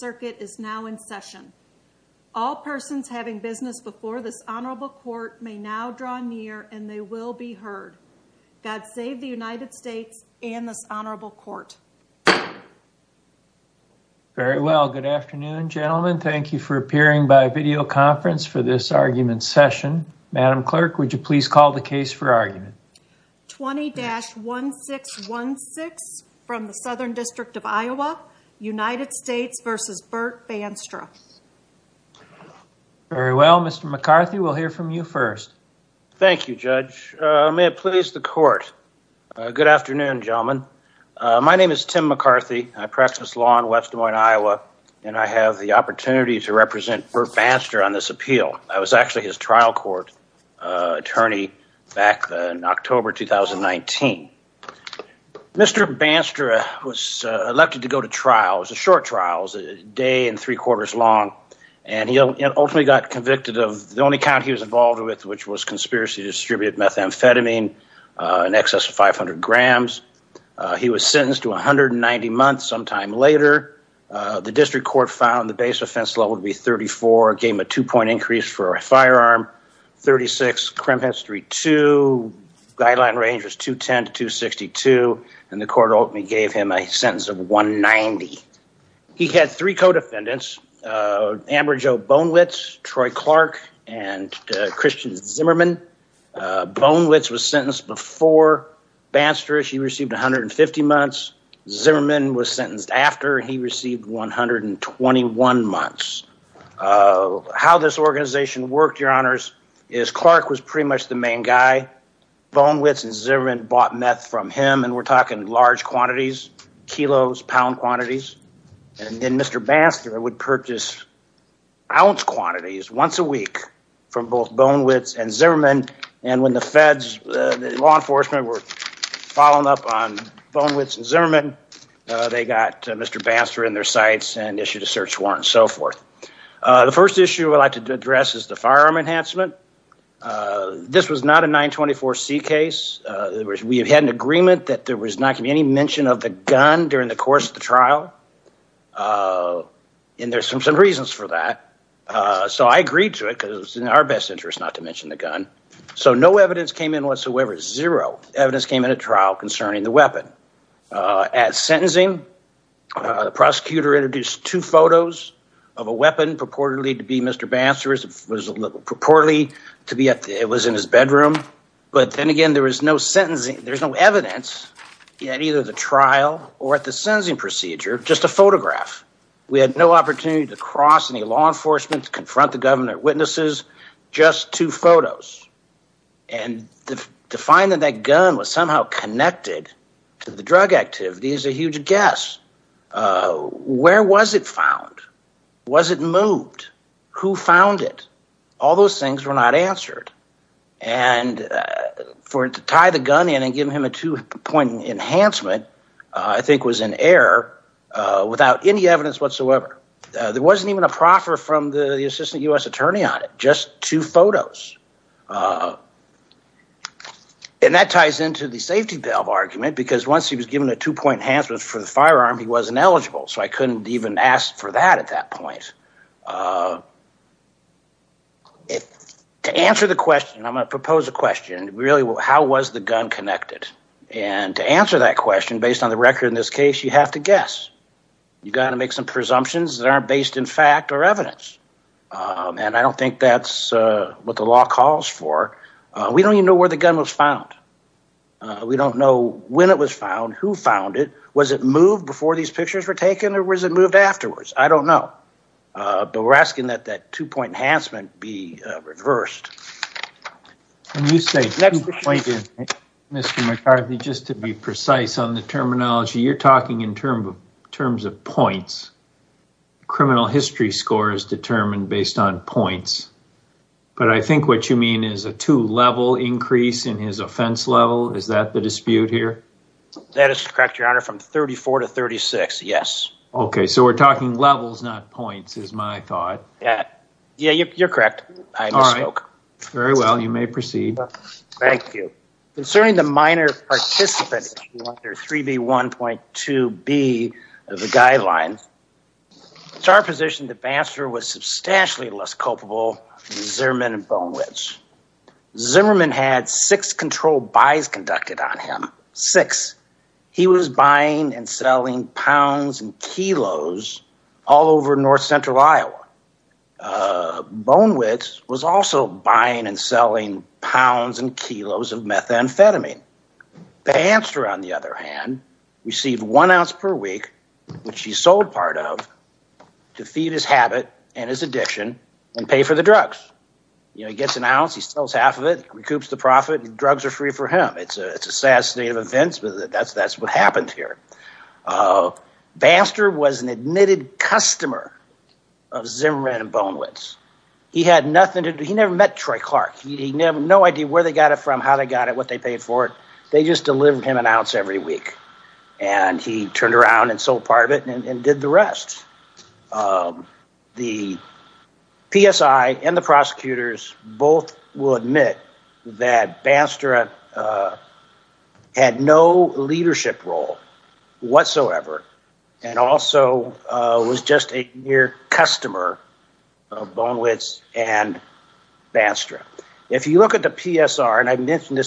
Circuit is now in session. All persons having business before this honorable court may now draw near and they will be heard. God save the United States and this honorable court. Very well, good afternoon gentlemen. Thank you for appearing by video conference for this argument session. Madam Clerk, would you please call the case for argument? 20-1616 from the Southern District Court. This is Bert Bandstra. Very well, Mr. McCarthy, we'll hear from you first. Thank you, Judge. May it please the court. Good afternoon, gentlemen. My name is Tim McCarthy. I practice law in West Des Moines, Iowa and I have the opportunity to represent Bert Bandstra on this appeal. I was actually his trial court attorney back in October 2019. Mr. Bandstra was elected to go to trial. It was a short trial. It was a day and three quarters long. And he ultimately got convicted of the only count he was involved with, which was conspiracy distributed methamphetamine, in excess of 500 grams. He was sentenced to 190 months. Sometime later, the district court found the base offense level would be 34, gave him a two-point increase for a firearm, 36, crimp history two, guideline range was 210 to 262, and the court ultimately gave him a sentence of 190. He had three co-defendants, Amber Jo Bonewits, Troy Clark, and Christian Zimmerman. Bonewits was sentenced before Bandstra. She received 150 months. Zimmerman was sentenced after. He received 121 months. How this organization worked, your honors, is Clark was pretty much the main guy. Bonewits and Zimmerman bought meth from him, and we're talking large quantities, kilos, pound quantities, and then Mr. Bandstra would purchase ounce quantities once a week from both Bonewits and Zimmerman, and when the feds, law enforcement, were following up on Bonewits and Zimmerman, they got Mr. Bandstra in their sights and issued a search warrant and so forth. The first issue I'd like to address is the firearm enhancement. This was not a 924C case. We had an agreement that there was not going to be any mention of the gun during the course of the trial, and there's some reasons for that, so I agreed to it because it was in our best interest not to mention the gun. So no evidence came in whatsoever. Zero evidence came in a trial concerning the weapon. At sentencing, the prosecutor introduced two photos of a weapon purportedly to be Mr. Bandstra's, was purportedly to be at, it was in his bedroom, but then again there was no sentencing, there's no evidence at either the trial or at the sentencing procedure, just a photograph. We had no opportunity to cross any law enforcement to confront the government witnesses, just two photos, and to find that that gun was somehow connected to the drug activity is a huge guess. Where was it found? Was it moved? Who found it? All those things were not answered, and for it to tie the gun in and give him a two-point enhancement, I think was an error without any evidence whatsoever. There wasn't even a proffer from the assistant U.S. attorney on it, just two photos. And that ties into the safety valve argument because once he was given a two-point enhancement for the firearm, he wasn't eligible, so I couldn't even ask for that at that point. To answer the question, I'm going to propose a question, really how was the gun connected? And to answer that question based on the record in this case, you have to guess. You've got to make some presumptions that aren't based in fact or evidence, and I don't think that's what the law calls for. We don't even know where the gun was found. We don't know when it was found, who found it, was it moved before these pictures were taken, or was it moved afterwards? I don't know, but we're asking that that two-point enhancement be reversed. Can you say, Mr. McCarthy, just to be precise on the terminology, you're talking in terms of points. Criminal history score is determined based on points, but I think what you mean is a two-level increase in his offense level? Is that the dispute here? That is correct, your honor, from 34 to 36, yes. Okay, so we're talking levels, not points is my thought. Yeah, yeah, you're correct. I misspoke. Very well, you may proceed. Thank you. Concerning the minor participant, 3B1.2B of the guidelines, it's our position that Baxter was substantially less culpable than Zimmerman and Bonewits. Zimmerman had six controlled buys conducted on him, six. He was buying and selling pounds and kilos all over north central Iowa. Bonewits was also buying and selling pounds and kilos of methamphetamine. Baxter, on the other hand, received one ounce per week, which he sold part of, to feed his habit and his addiction and pay for the drugs. You know, he gets an ounce, he sells half of it, recoups the profit, and drugs are free for him. It's a sad state of events, but that's what happened here. Baxter was an admitted customer of Zimmerman and Bonewits. He had nothing to do, he never met Troy Clark. He had no idea where they got it from, how they got it, what they paid for it. They just delivered him an ounce every week, and he turned around and sold part of it and did the rest. The PSI and the prosecutors both will admit that Baxter had no leadership role whatsoever, and also was just a mere customer of Bonewits and Baxter. If you look at the PSR, and I mentioned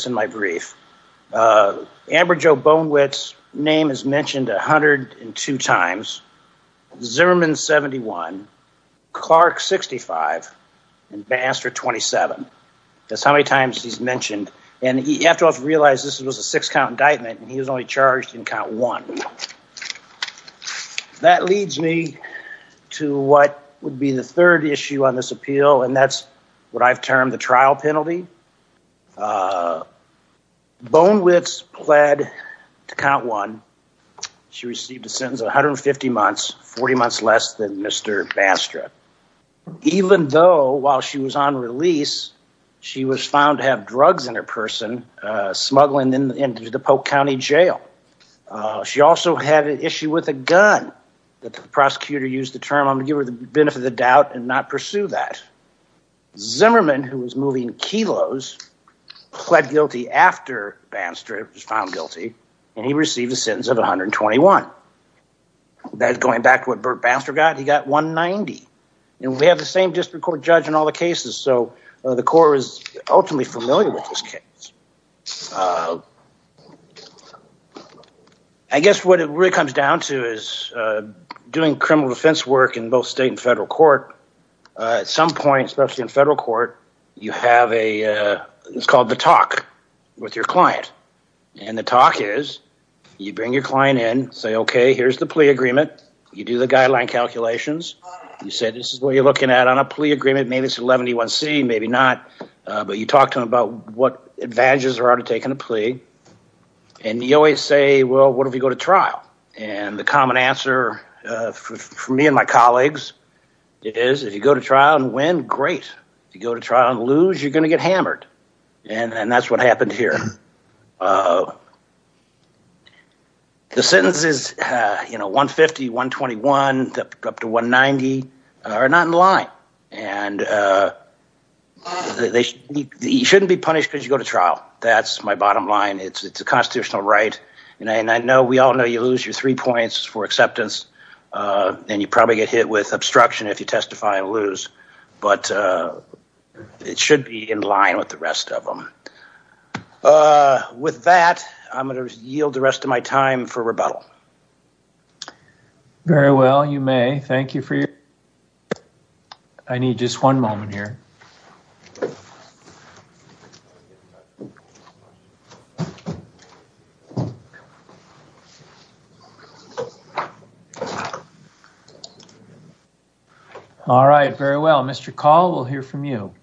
Zimmerman, 71, Clark, 65, and Baxter, 27. That's how many times he's mentioned, and you have to realize this was a six-count indictment, and he was only charged in count one. That leads me to what would be the third issue on this appeal, and that's what I've termed the Mr. Baxter. Even though while she was on release, she was found to have drugs in her person, smuggling into the Polk County Jail. She also had an issue with a gun, that the prosecutor used the term, I'm going to give her the benefit of the doubt and not pursue that. Zimmerman, who was moving kilos, pled guilty after Baxter was found guilty, and he received a $121,000 fine. That's going back to what Baxter got, he got $190,000, and we have the same district court judge in all the cases, so the court is ultimately familiar with this case. I guess what it really comes down to is doing criminal defense work in both state and federal court. At some point, especially in federal court, you have what's called the talk with your client, and the talk is you bring your client in, say, okay, here's the plea agreement, you do the guideline calculations, you say this is what you're looking at on a plea agreement, maybe it's 111C, maybe not, but you talk to them about what advantages there are to taking a plea, and you always say, well, what if you go to trial? The common answer for me and my colleagues is if you go to trial and win, great. If you go to trial and lose, you're going to get hammered, and that's what happened here. The sentences, $150,000, $121,000, up to $190,000 are not in line, and you shouldn't be punished because you go to trial. That's my bottom line. It's a constitutional right, and I know we all know you lose your three points for acceptance, and you probably get hit with obstruction if you testify and lose, but it should be in line with the rest of them. With that, I'm going to yield the rest of my time for rebuttal. Very well. You may. Thank you for your time. I need just one moment here. All right. Very well. Mr. Call, we'll hear from you.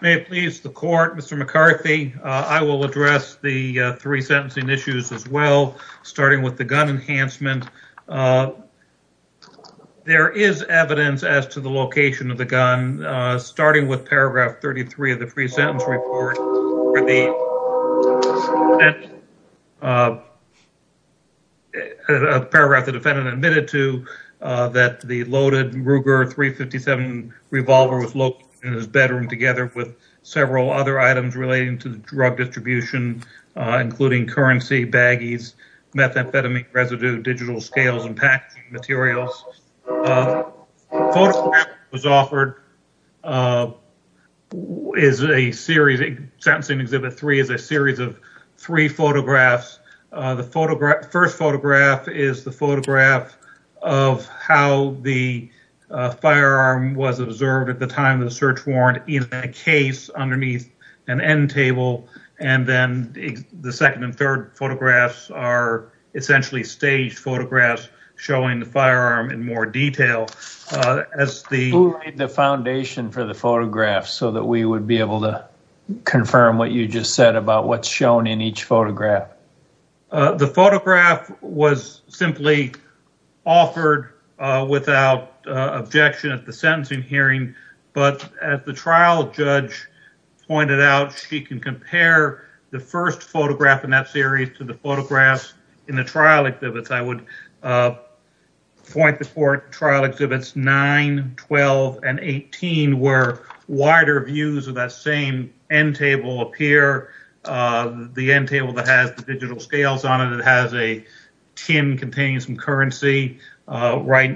If it pleases the court, Mr. McCarthy, I will address the three sentencing issues as well, starting with the gun enhancement. There is evidence as to the location of the gun, starting with paragraph 33 of the pre-sentence report. The paragraph the defendant admitted to that the loaded Ruger .357 revolver was located in his bedroom together with several other items relating to the drug distribution, including currency, baggies, methamphetamine residue, digital scales, and packaging materials. The photograph that was offered is a series, sentencing exhibit three is a series of three photographs. The first photograph is the photograph of how the firearm was observed at the time of the search warrant in a case underneath an end table, and then the second and third are essentially staged photographs showing the firearm in more detail. Who laid the foundation for the photograph so that we would be able to confirm what you just said about what's shown in each photograph? The photograph was simply offered without objection at the sentencing hearing, but as the photographs in the trial exhibits, I would point to trial exhibits 9, 12, and 18, where wider views of that same end table appear. The end table that has the digital scales on it, it has a tin containing some currency right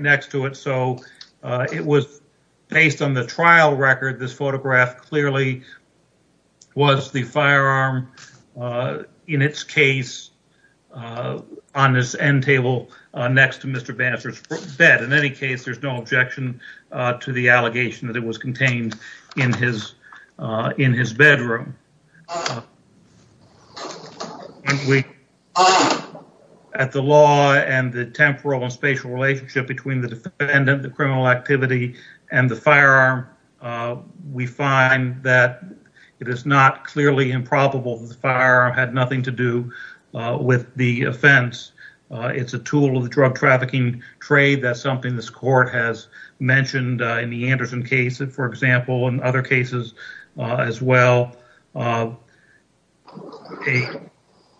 next to it, so it was based on the trial record. This photograph clearly was the firearm in its case on this end table next to Mr. Banser's bed. In any case, there's no objection to the allegation that it was contained in his bedroom. At the law and the temporal and spatial relationship between the defendant, the criminal activity, and the firearm, we find that it is not clearly improbable that the firearm had nothing to do with the offense. It's a tool of the drug trafficking trade. That's something this court has mentioned in the Anderson case, for example, and other cases as well.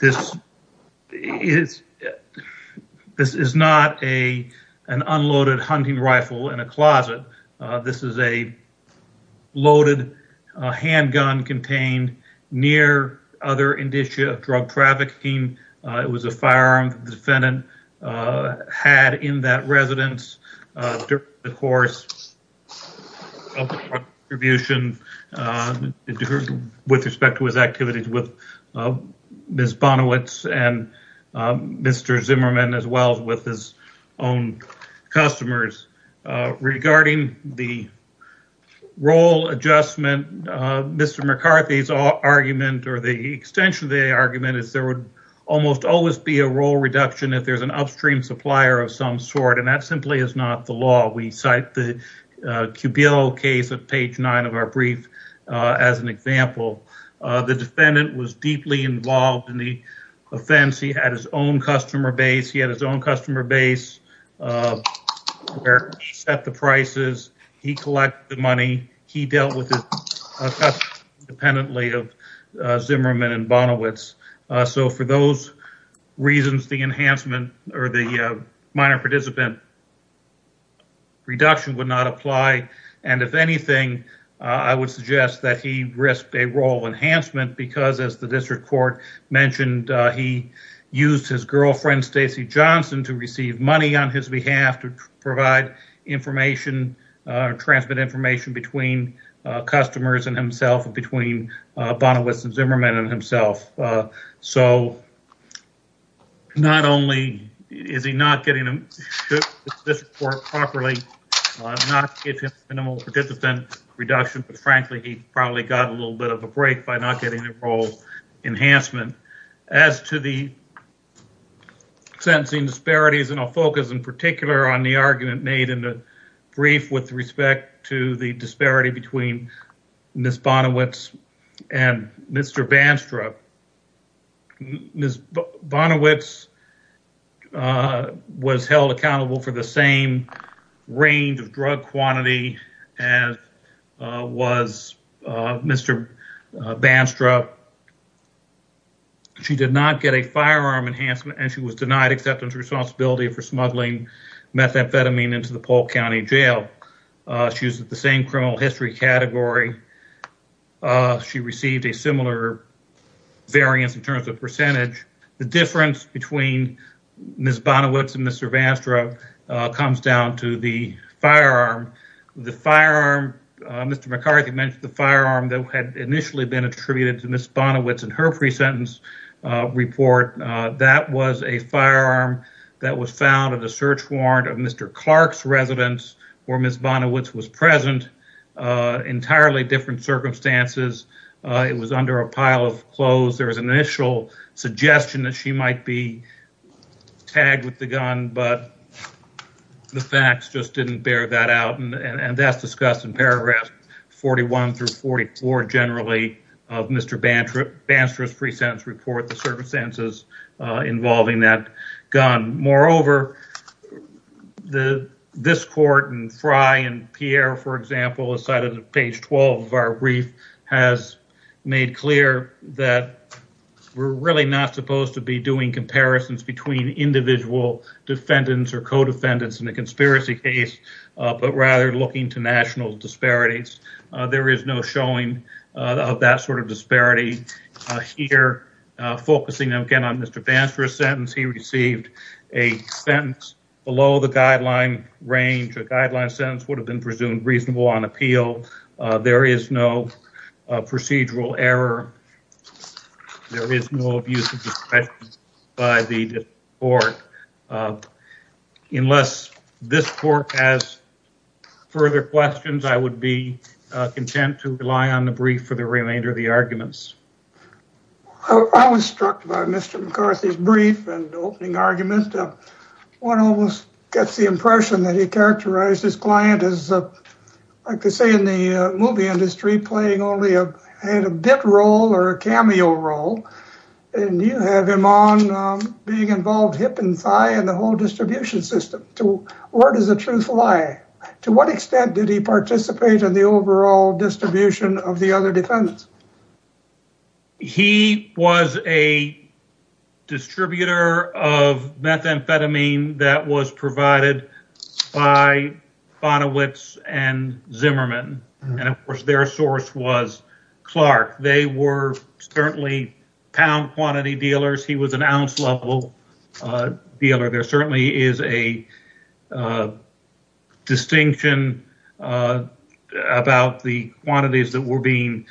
This is not an unloaded hunting rifle in a closet. This is a loaded handgun contained near other indicia of drug trafficking. It was a firearm the defendant had in that residence during the course of the prosecution with respect to his activities with Ms. Bonowitz and Mr. Zimmerman, as well as with his own customers. Regarding the role adjustment, Mr. McCarthy's argument or the extension of the argument is there would almost always be a role reduction if there's an upstream supplier of some sort, and that simply is not the law. We cite the Cubille case at page nine of our brief as an example. The defendant was deeply involved in the offense. He had his own customer base. He had his own customer base where he set the prices. He collected the money. He dealt with it independently of Zimmerman and Bonowitz. So, for those reasons, the enhancement or the minor participant reduction would not apply. If anything, I would suggest that he risked a role enhancement because, as the district court mentioned, he used his girlfriend, Stacey Johnson, to receive money on his behalf to provide information or transmit information between customers and himself, between Bonowitz and Zimmerman and himself. So, not only is he not getting this report properly, not minimal participant reduction, but, frankly, he probably got a little bit of a break by not getting a role enhancement. As to the sentencing disparities, and I'll focus in particular on the argument made in the brief with respect to the disparity between Ms. Bonowitz and Mr. Banstrup, Ms. Bonowitz was held accountable for the same range of drug quantity as was Mr. Banstrup. She did not get a firearm enhancement and she was denied acceptance responsibility for smuggling methamphetamine into the Polk County Jail. She was in the same criminal history category. She received a similar variance in terms of percentage. The difference between Ms. Bonowitz and Mr. Banstrup comes down to the firearm. The firearm, Mr. McCarthy mentioned, the firearm that had initially been attributed to Ms. Bonowitz in her pre-sentence report, that was a firearm that was found at a search warrant of Mr. Clark's residence, where Ms. Bonowitz was present. Entirely different circumstances. It was under a pile of clothes. There was an initial suggestion that she might be tagged with the gun, but the facts just didn't bear that out, and that's discussed in paragraphs 41 through 44, generally, of Mr. Banstrup's pre-sentence report, the circumstances involving that gun. Moreover, this court and Frye and Pierre, for example, as cited on page 12 of our brief, has made clear that we're really not supposed to be doing comparisons between individual defendants or co-defendants in a conspiracy case, but rather looking to national disparities. There is no showing of that sort of disparity here. Focusing again on Mr. Banstrup's sentence, he received a sentence below the guideline range. A guideline sentence would have been presumed reasonable on appeal. There is no procedural error. There is no abuse of discretion by the court. Unless this court has further questions, I would be content to rely on the brief for the remainder of the arguments. I was struck by Mr. McCarthy's brief and opening argument. One almost gets the impression that he characterized his client as, like they say in the movie industry, playing only a bit role or a cameo role, and you have him on being involved hip and thigh in the whole distribution system. Where does the truth lie? To what extent did he participate in the overall distribution of the other defendants? He was a distributor of methamphetamine that was provided by Vonowitz and Zimmerman, and of course their source was Clark. They were certainly pound quantity dealers. He was an ounce level dealer. There certainly is a distinction about the quantities that were being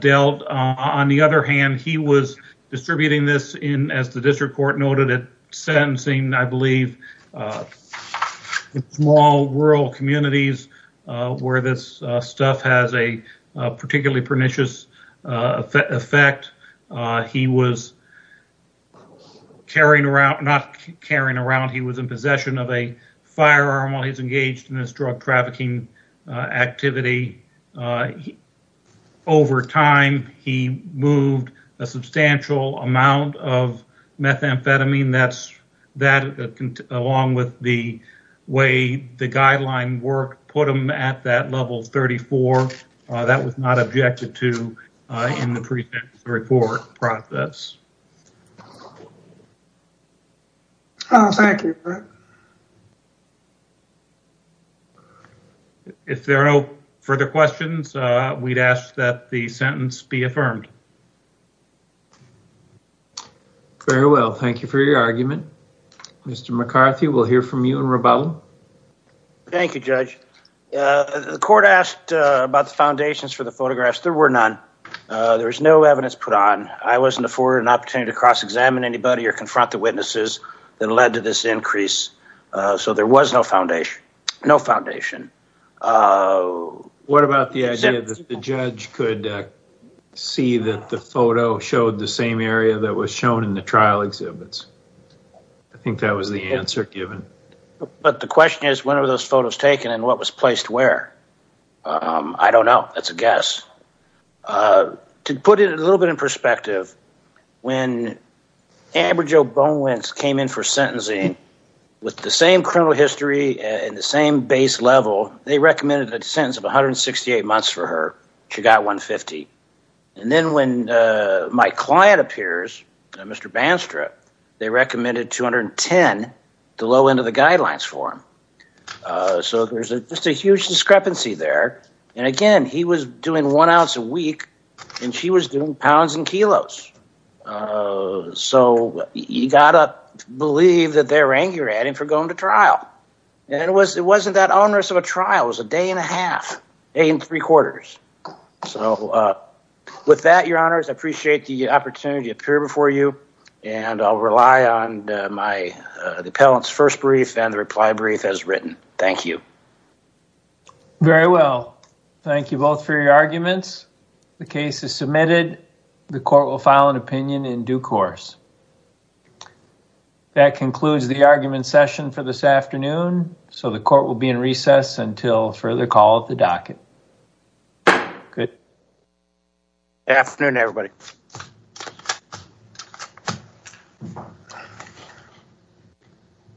dealt. On the other hand, he was distributing this in, as the district court noted, sentencing, I believe, small rural communities where this stuff has a particularly pernicious effect. He was carrying around, not carrying around, he was in possession of a firearm while he was engaged in this drug trafficking activity. Over time, he moved a substantial amount of methamphetamine that, along with the way the guideline worked, put him at that level 34. That was not objected to in the pre-trial report process. Thank you. If there are no further questions, we'd ask that the sentence be affirmed. Very well. Thank you for your argument. Mr. McCarthy, we'll hear from you in rebuttal. Thank you, Judge. The court asked about the foundations for the photographs. There were none. There was no evidence put on. I wasn't afforded an opportunity to cross-examine anybody or confront the witnesses that led to this increase. There was no foundation. What about the idea that the judge could see that the photo showed the same area that was shown in the trial exhibits? I think that was the answer given. The question is, when were those photos taken and what was placed where? I don't know. That's a guess. To put it a little bit in perspective, when Amber Jo Bonewentz came in for sentencing with the same criminal history and the same base level, they recommended a sentence of 168 months for her. She got 150. Then when my client appears, Mr. Banstrap, they recommended 210, the low end of the guidelines for him. There's just a huge discrepancy there. Again, he was doing one ounce a week and she was doing pounds and kilos. You got to believe that they're angry at him for going to trial. It wasn't that onerous of a trial. It was a day and a half, eight and three quarters. With that, your honors, I appreciate the opportunity to appear before you. I'll rely on the appellant's first brief and the reply brief as written. Thank you. Very well. Thank you both for your arguments. The case is submitted. The court will file an opinion in due course. That concludes the argument session for this afternoon. The court will be in recess until further call at the docket. Good afternoon, everybody.